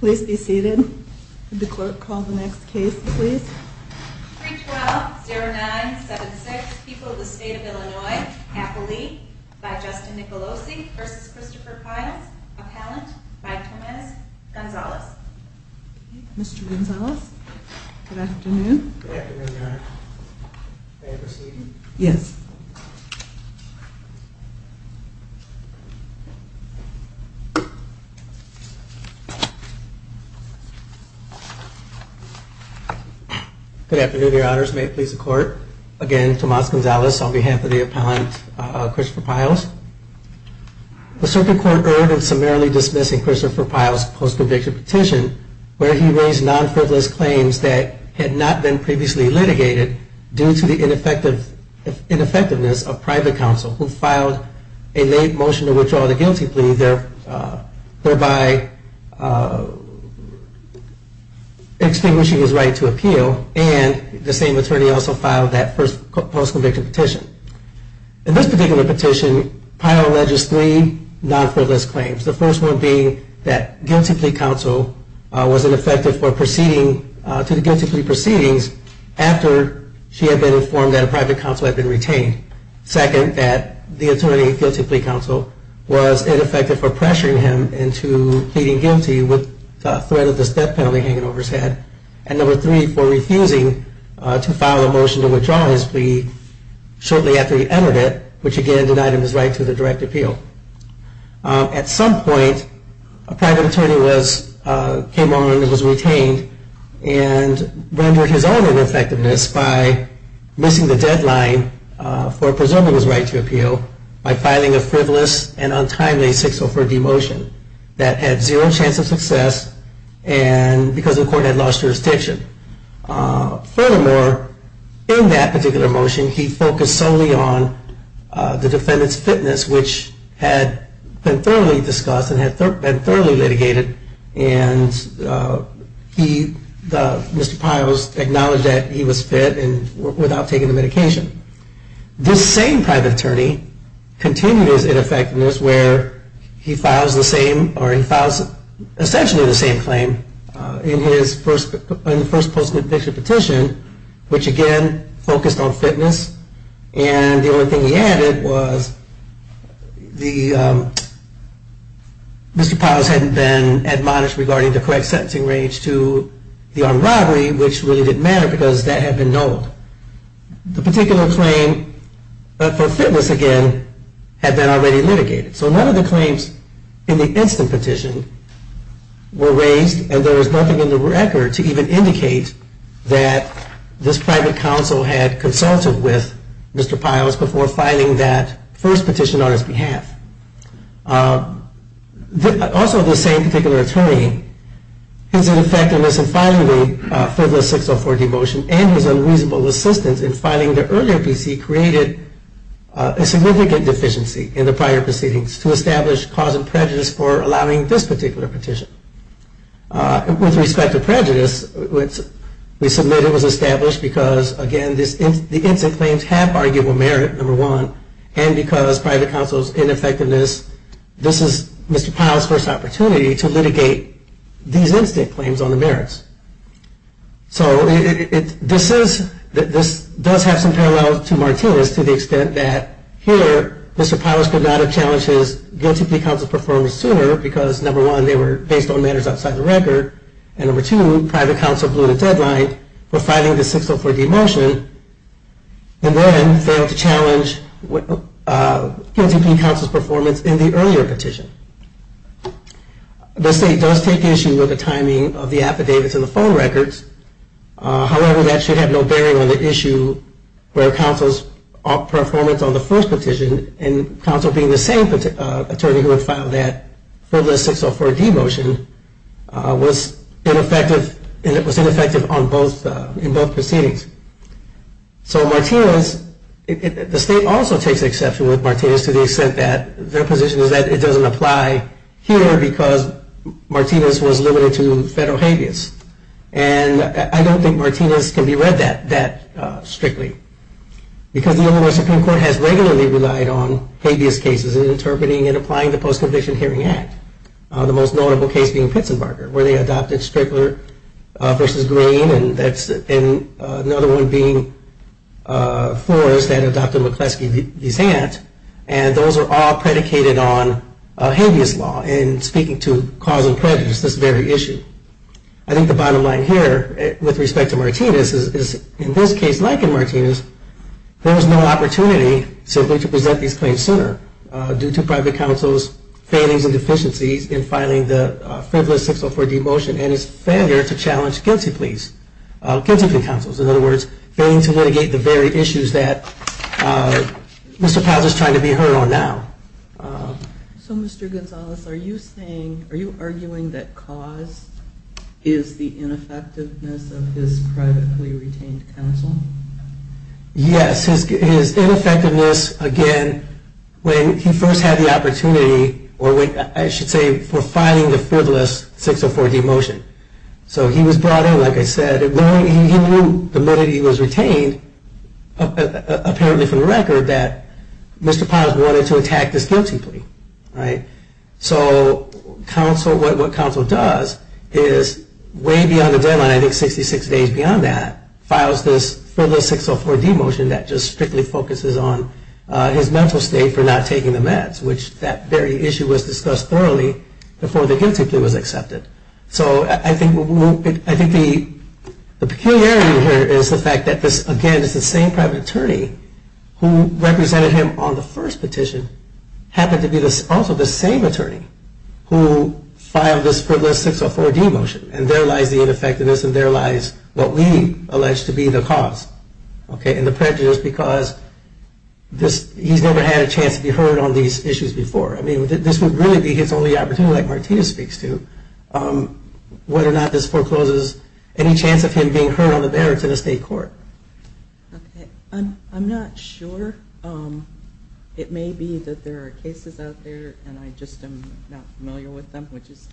Please be seated. Would the clerk call the next case, please? 312-0976, People of the State of Illinois, Appalachia, by Justin Nicolosi v. Christopher Pyles, Appalachia, by Tomas Gonzalez. Mr. Gonzalez, good afternoon. Good afternoon, Your Honor. May I proceed? Yes. Good afternoon, Your Honors. May it please the Court. Again, Tomas Gonzalez on behalf of the appellant Christopher Pyles. The circuit court erred in summarily dismissing Christopher Pyles' post-conviction petition where he raised non-frivolous claims that had not been previously litigated due to the ineffectiveness of private counsel who filed a late motion to withdraw the guilty plea, thereby extinguishing his right to appeal. And the same attorney also filed that post-conviction petition. In this particular petition, Pyles alleges three non-frivolous claims. The first one being that guilty plea counsel was ineffective to the guilty plea proceedings after she had been informed that a private counsel had been retained. Second, that the attorney guilty plea counsel was ineffective for pressuring him into pleading guilty with the threat of this death penalty hanging over his head. And number three, for refusing to file a motion to withdraw his plea shortly after he entered it, which again denied him his right to the direct appeal. At some point, a private attorney came on and was retained and rendered his own ineffectiveness by missing the deadline for preserving his right to appeal by filing a frivolous and untimely 604D motion that had zero chance of success because the court had lost jurisdiction. Furthermore, in that particular motion, he focused solely on the defendant's fitness, which had been thoroughly discussed and had been thoroughly litigated. And Mr. Pyles acknowledged that he was fit and without taking the medication. This same private attorney continued his ineffectiveness where he files essentially the same claim in his first post-conviction petition, which again focused on fitness. And the only thing he added was Mr. Pyles hadn't been admonished regarding the correct sentencing range to the armed robbery, which really didn't matter because that had been nulled. The particular claim for fitness again had been already litigated. So none of the claims in the instant petition were raised and there was nothing in the record to even indicate that this private counsel had consulted with Mr. Pyles before filing that first petition on his behalf. Also, this same particular attorney, his ineffectiveness in filing the frivolous 604D motion and his unreasonable insistence in filing the earlier PC created a significant deficiency in the prior proceedings to establish cause of prejudice for allowing this particular petition. With respect to prejudice, we submit it was established because, again, the instant claims have arguable merit, number one, and because private counsel's ineffectiveness, this is Mr. Pyles' first opportunity to litigate these instant claims on the merits. So this does have some parallels to Martinez to the extent that here, Mr. Pyles could not have challenged his guilty plea counsel's performance sooner because, number one, they were based on matters outside the record, and number two, private counsel blew the deadline for filing the 604D motion and then failed to challenge guilty plea counsel's performance in the earlier petition. The state does take issue with the timing of the affidavits and the phone records. However, that should have no bearing on the issue where counsel's performance on the first petition, and counsel being the same attorney who had filed that frivolous 604D motion, was ineffective in both proceedings. So Martinez, the state also takes exception with Martinez to the extent that their position is that it doesn't apply here because Martinez was limited to federal habeas, and I don't think Martinez can be read that strictly. Because the Illinois Supreme Court has regularly relied on habeas cases in interpreting and applying the Post-Conviction Hearing Act, the most notable case being Pitzenberger, where they adopted Strickler v. Green, and another one being Flores that adopted McCleskey v. Zant, and those are all predicated on habeas law and speaking to cause and prejudice, this very issue. I think the bottom line here with respect to Martinez is in this case, like in Martinez, there was no opportunity simply to present these claims sooner due to private counsel's failings and deficiencies in filing the frivolous 604D motion and his failure to challenge guilty plea counsel's, in other words, failing to litigate the very issues that Mr. Powell is trying to be heard on now. So Mr. Gonzalez, are you saying, are you arguing that cause is the ineffectiveness of his privately retained counsel? Yes, his ineffectiveness, again, when he first had the opportunity, or I should say, for filing the frivolous 604D motion. So he was brought in, like I said, he knew the moment he was retained, apparently from the record, that Mr. Powell wanted to attack this guilty plea. So what counsel does is way beyond the deadline, I think 66 days beyond that, files this frivolous 604D motion that just strictly focuses on his mental state for not taking the meds, which that very issue was discussed thoroughly before the guilty plea was accepted. So I think the peculiarity here is the fact that this, again, is the same private attorney who represented him on the first petition, happened to be also the same attorney who filed this frivolous 604D motion. And there lies the ineffectiveness and there lies what we allege to be the cause. Okay, and the prejudice because he's never had a chance to be heard on these issues before. I mean, this would really be his only opportunity, like Martina speaks to, whether or not this forecloses any chance of him being heard on the merits in a state court. I'm not sure. It may be that there are cases out there, and I just am not familiar with them, which is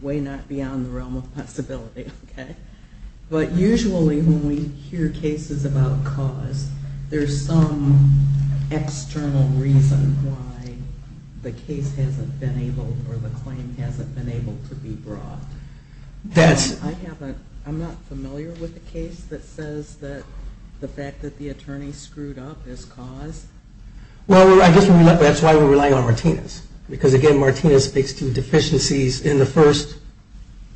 way not beyond the realm of possibility. But usually when we hear cases about cause, there's some external reason why the case hasn't been able or the claim hasn't been able to be brought. I'm not familiar with a case that says that the fact that the attorney screwed up is cause. Well, I guess that's why we're relying on Martina's. Because, again, Martina speaks to deficiencies in the first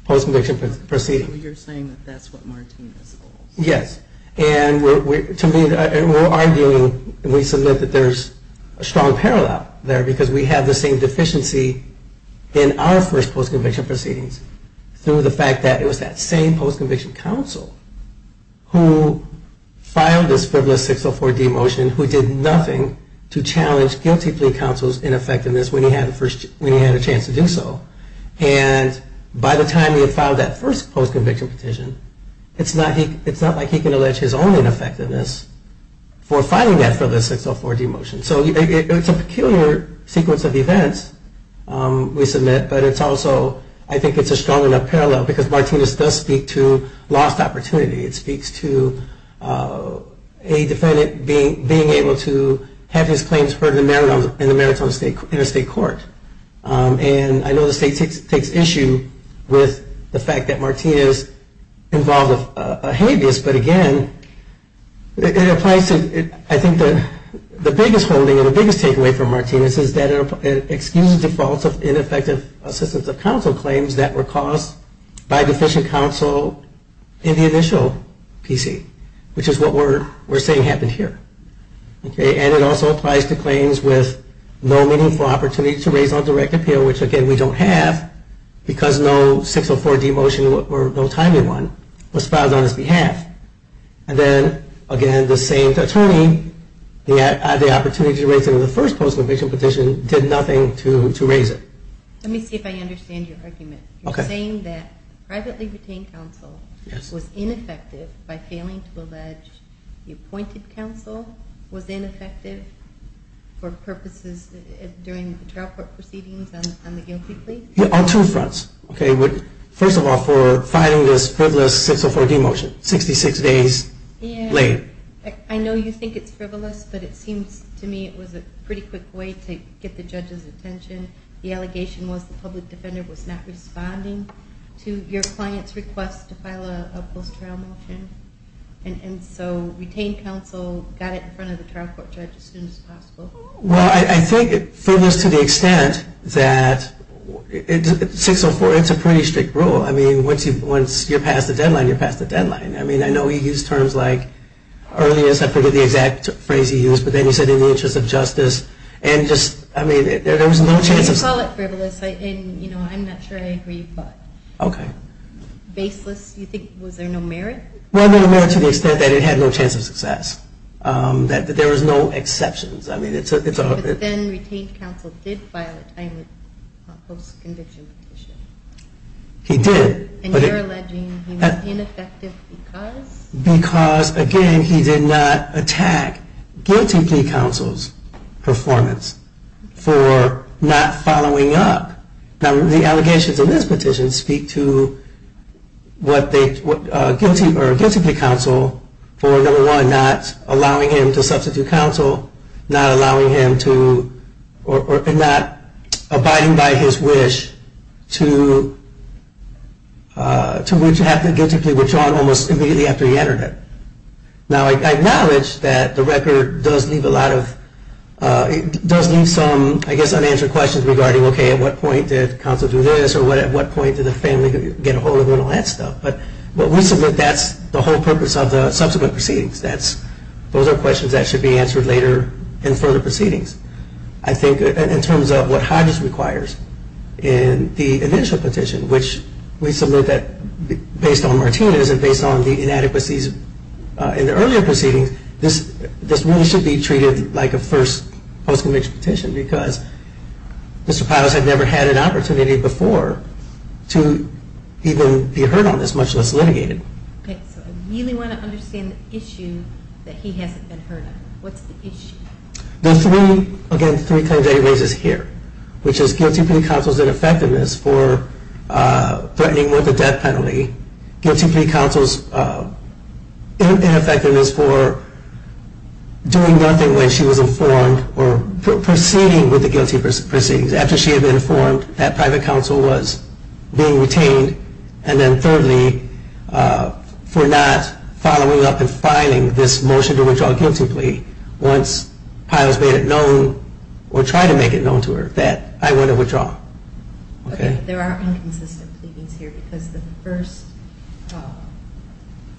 post-conviction proceeding. You're saying that that's what Martina's holds. Yes, and we're arguing, we submit that there's a strong parallel there because we have the same deficiency in our first post-conviction proceedings through the fact that it was that same post-conviction counsel who filed this frivolous 604-D motion, who did nothing to challenge guilty plea counsel's ineffectiveness when he had a chance to do so. And by the time he had filed that first post-conviction petition, it's not like he can allege his own ineffectiveness for filing that frivolous 604-D motion. So it's a peculiar sequence of events we submit, but it's also, I think it's a strong enough parallel because Martina's does speak to lost opportunity. It speaks to a defendant being able to have his claims heard in a state court. And I know the state takes issue with the fact that Martina's involved with a habeas, but again, it applies to, I think the biggest holding and the biggest takeaway from Martina's is that it excuses defaults of ineffective assistance of counsel claims that were caused by deficient counsel in the initial PC, which is what we're saying happened here. And it also applies to claims with no meaningful opportunity to raise on direct appeal, which, again, we don't have because no 604-D motion or no timely one was filed on his behalf. And then, again, the same attorney had the opportunity to raise it in the first post-conviction petition, did nothing to raise it. Let me see if I understand your argument. You're saying that privately retained counsel was ineffective by failing to allege the appointed counsel was ineffective for purposes during the trial court proceedings on the guilty plea? On two fronts. First of all, for filing this frivolous 604-D motion 66 days late. I know you think it's frivolous, but it seems to me it was a pretty quick way to get the judge's attention. The allegation was the public defender was not responding to your client's request to file a post-trial motion. And so retained counsel got it in front of the trial court judge as soon as possible. Well, I think frivolous to the extent that 604, it's a pretty strict rule. I mean, once you're past the deadline, you're past the deadline. I mean, I know you used terms like earliest. I forget the exact phrase you used, but then you said in the interest of justice. And just, I mean, there was no chance of... I didn't call it frivolous. And, you know, I'm not sure I agree, but... Okay. Baseless, you think, was there no merit? Well, no merit to the extent that it had no chance of success. That there was no exceptions. I mean, it's a... But then retained counsel did file a post-conviction petition. He did. And you're alleging he was ineffective because... Because, again, he did not attack guilty plea counsel's performance for not following up. Now, the allegations in this petition speak to guilty plea counsel for, number one, not allowing him to substitute counsel, not allowing him to... and not abiding by his wish to have the guilty plea withdrawn almost immediately after he entered it. Now, I acknowledge that the record does leave a lot of... or at what point did the family get a hold of him and all that stuff. But we submit that's the whole purpose of the subsequent proceedings. Those are questions that should be answered later in further proceedings. I think in terms of what Hodges requires in the initial petition, which we submit that based on Martinez and based on the inadequacies in the earlier proceedings, this really should be treated like a first post-conviction petition because Mr. Pylos had never had an opportunity before to even be heard on this, much less litigated. Okay. So I really want to understand the issue that he hasn't been heard on. What's the issue? The three, again, three claims that he raises here, which is guilty plea counsel's ineffectiveness for threatening with a death penalty, guilty plea counsel's ineffectiveness for doing nothing when she was informed or proceeding with the guilty proceedings after she had been informed that private counsel was being retained, and then thirdly, for not following up and filing this motion to withdraw a guilty plea once Pylos made it known or tried to make it known to her that I want to withdraw. Okay. There are inconsistent pleadings here because the first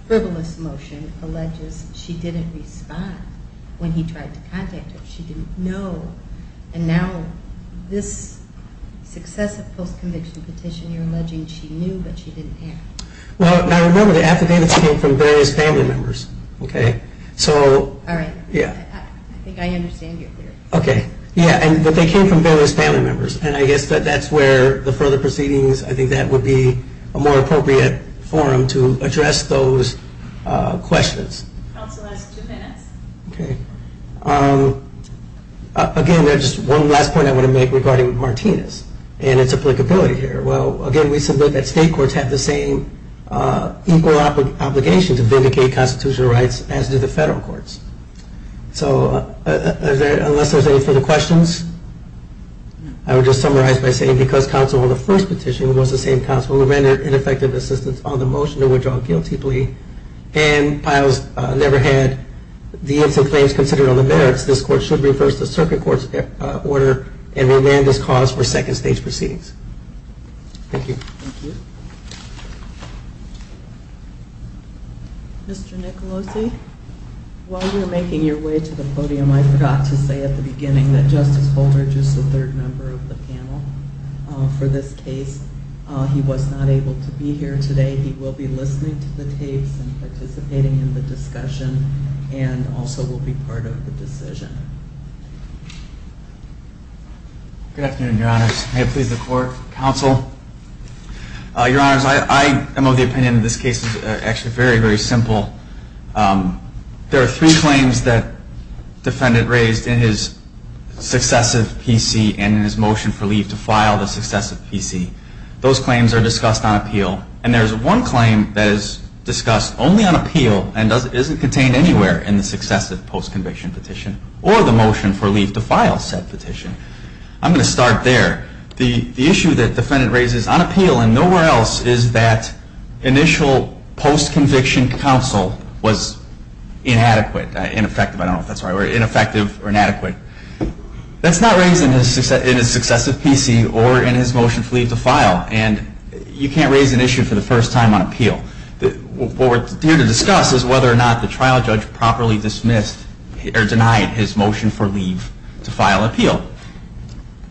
frivolous motion alleges she didn't respond when he tried to contact her. She didn't know. And now this successive post-conviction petition, you're alleging she knew but she didn't act. Well, I remember the affidavits came from various family members. Okay. All right. Yeah. I think I understand your theory. Okay. Yeah, but they came from various family members, and I guess that's where the further proceedings, I think that would be a more appropriate forum to address those questions. Counsel has two minutes. Okay. Again, there's just one last point I want to make regarding Martinez and its applicability here. Well, again, we submit that state courts have the same equal obligation to vindicate constitutional rights as do the federal courts. So unless there's any further questions, I would just summarize by saying because counsel on the first petition was the same counsel who amended ineffective assistance on the motion to withdraw a guilty plea and Piles never had the incentive claims considered on the merits, this court should reverse the circuit court's order and remand this cause for second stage proceedings. Thank you. Thank you. Mr. Nicolosi, while you were making your way to the podium, I forgot to say at the beginning that Justice Holder, just the third member of the panel for this case, he was not able to be here today. He will be listening to the tapes and participating in the discussion and also will be part of the decision. Good afternoon, Your Honors. May it please the Court, Counsel. Your Honors, I am of the opinion that this case is actually very, very simple. There are three claims that the defendant raised in his successive PC and in his motion for leave to file the successive PC. Those claims are discussed on appeal, and there is one claim that is discussed only on appeal and isn't contained anywhere in the successive post-conviction petition or the motion for leave to file said petition. I'm going to start there. The issue that the defendant raises on appeal and nowhere else is that initial post-conviction counsel was inadequate, ineffective, I don't know if that's the right word, ineffective or inadequate. That's not raised in his successive PC or in his motion for leave to file, and you can't raise an issue for the first time on appeal. What we're here to discuss is whether or not the trial judge properly dismissed or denied his motion for leave to file appeal.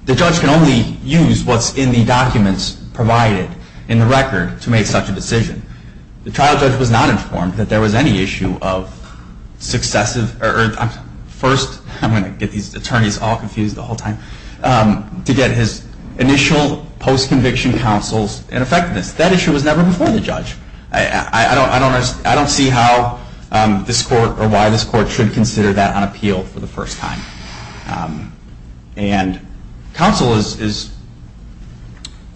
The judge can only use what's in the documents provided in the record to make such a decision. The trial judge was not informed that there was any issue of successive, first, I'm going to get these attorneys all confused the whole time, to get his initial post-conviction counsel's ineffectiveness. That issue was never before the judge. I don't see how this court or why this court should consider that on appeal for the first time. And counsel is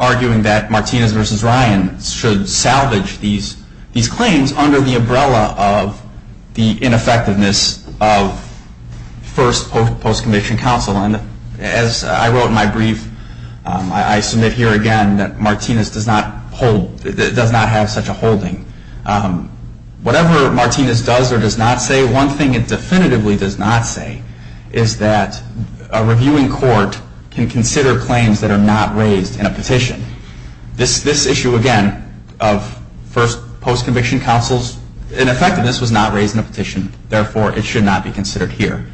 arguing that Martinez v. Ryan should salvage these claims under the umbrella of the ineffectiveness of first post-conviction counsel. And as I wrote in my brief, I submit here again that Martinez does not have such a holding. Whatever Martinez does or does not say, one thing it definitively does not say, is that a reviewing court can consider claims that are not raised in a petition. This issue again of first post-conviction counsel's ineffectiveness was not raised in a petition. Therefore, it should not be considered here.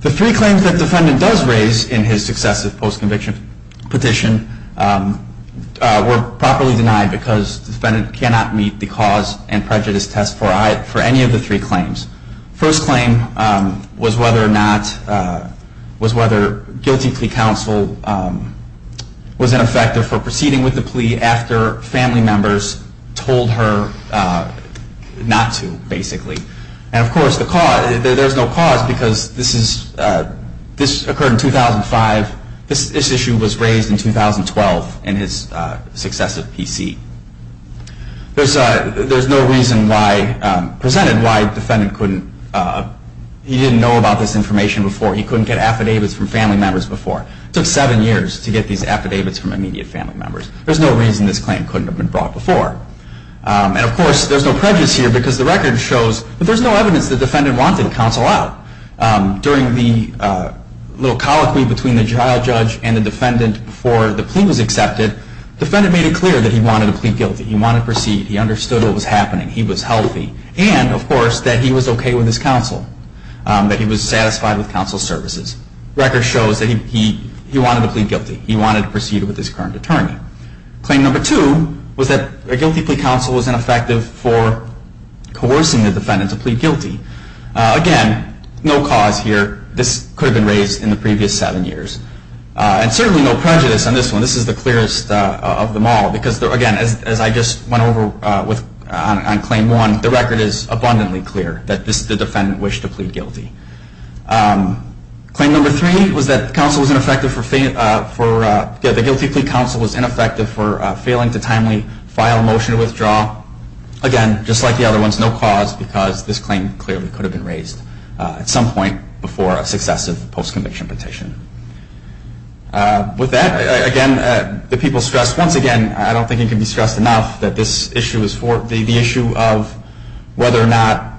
The three claims that the defendant does raise in his successive post-conviction petition were properly denied because the defendant cannot meet the cause and prejudice test for any of the three claims. First claim was whether guilty plea counsel was ineffective for proceeding with the plea after family members told her not to, basically. And of course, there's no cause because this occurred in 2005. This issue was raised in 2012 in his successive PC. There's no reason presented why he didn't know about this information before. He couldn't get affidavits from family members before. It took seven years to get these affidavits from immediate family members. There's no reason this claim couldn't have been brought before. And of course, there's no prejudice here because the record shows that there's no evidence the defendant wanted counsel out. During the little colloquy between the trial judge and the defendant before the plea was accepted, the defendant made it clear that he wanted to plead guilty. He wanted to proceed. He understood what was happening. He was healthy. And of course, that he was okay with his counsel, that he was satisfied with counsel's services. The record shows that he wanted to plead guilty. He wanted to proceed with his current attorney. Claim number two was that a guilty plea counsel was ineffective for coercing the defendant to plead guilty. Again, no cause here. This could have been raised in the previous seven years. And certainly no prejudice on this one. This is the clearest of them all because, again, as I just went over on claim one, the record is abundantly clear that this is the defendant wished to plead guilty. Claim number three was that the guilty plea counsel was ineffective for failing to timely file a motion to withdraw. Again, just like the other ones, no cause because this claim clearly could have been raised at some point before a successive post-conviction petition. With that, again, the people stressed once again, I don't think it can be stressed enough, that this issue is the issue of whether or not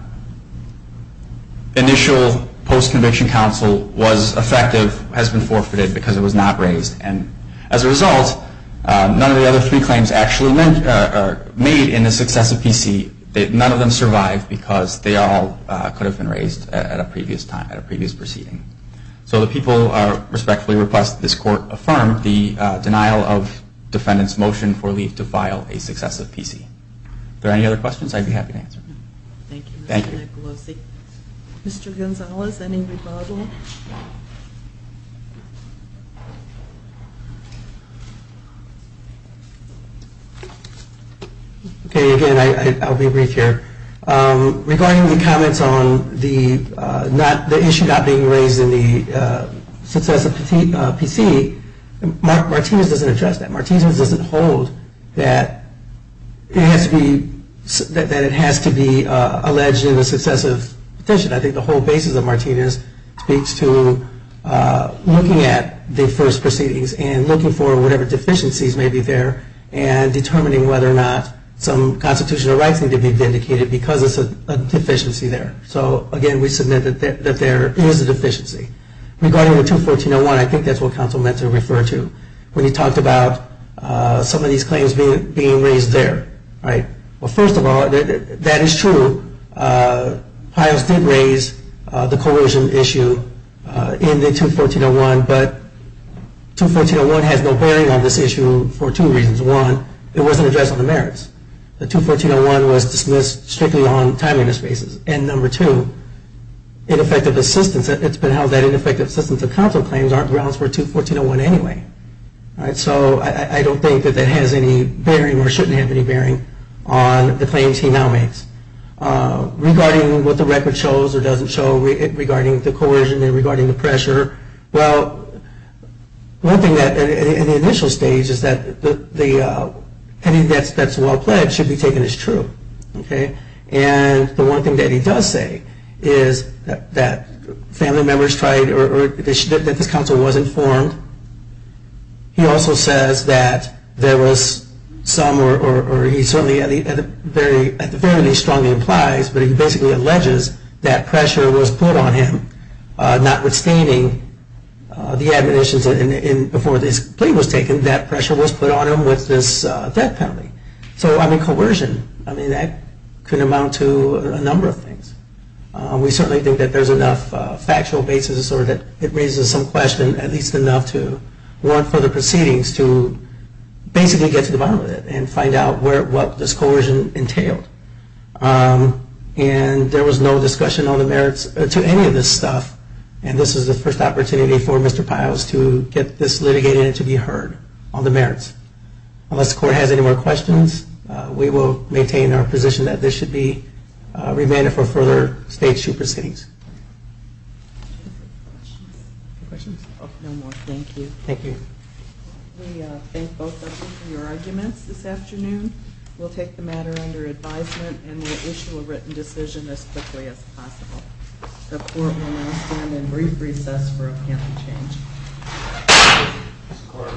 initial post-conviction counsel was effective, has been forfeited because it was not raised. And as a result, none of the other three claims actually made in the successive PC, none of them survived because they all could have been raised at a previous time, at a previous proceeding. So the people respectfully request that this court affirm the denial of defendant's motion for leave to file a successive PC. If there are any other questions, I'd be happy to answer them. Thank you, Mr. Nicolosi. Mr. Gonzalez, any rebuttal? Okay, again, I'll be brief here. Regarding the comments on the issue not being raised in the successive PC, Martinez doesn't address that. Martinez doesn't hold that it has to be alleged in the successive petition. I think the whole basis of Martinez speaks to looking at the first proceedings and looking for whatever deficiencies may be there and determining whether or not some constitutional rights need to be vindicated because there's a deficiency there. So, again, we submit that there is a deficiency. Regarding the 214.01, I think that's what counsel meant to refer to when he talked about some of these claims being raised there. Well, first of all, that is true. Pius did raise the coercion issue in the 214.01, but 214.01 has no bearing on this issue for two reasons. One, it wasn't addressed on the merits. The 214.01 was dismissed strictly on timeliness basis. And number two, ineffective assistance. It's been held that ineffective assistance of counsel claims aren't grounds for 214.01 anyway. So I don't think that that has any bearing or shouldn't have any bearing on the claims he now makes. Regarding what the record shows or doesn't show regarding the coercion and regarding the pressure, well, one thing in the initial stage is that anything that's well pledged should be taken as true. And the one thing that he does say is that family members tried or that this counsel wasn't informed. He also says that there was some, or he certainly very strongly implies, but he basically alleges that pressure was put on him notwithstanding the admonitions before this plea was taken, that pressure was put on him with this death penalty. So, I mean, coercion, I mean, that could amount to a number of things. We certainly think that there's enough factual basis or that it raises some question, at least enough to warrant further proceedings to basically get to the bottom of it and find out what this coercion entailed. And there was no discussion on the merits to any of this stuff, and this is the first opportunity for Mr. Piles to get this litigated and to be heard on the merits. Unless the court has any more questions, we will maintain our position that this should be remanded for further stage two proceedings. Questions? No more. Thank you. Thank you. We thank both of you for your arguments this afternoon. We'll take the matter under advisement and we'll issue a written decision as quickly as possible. The court will now stand in brief recess for a panel change.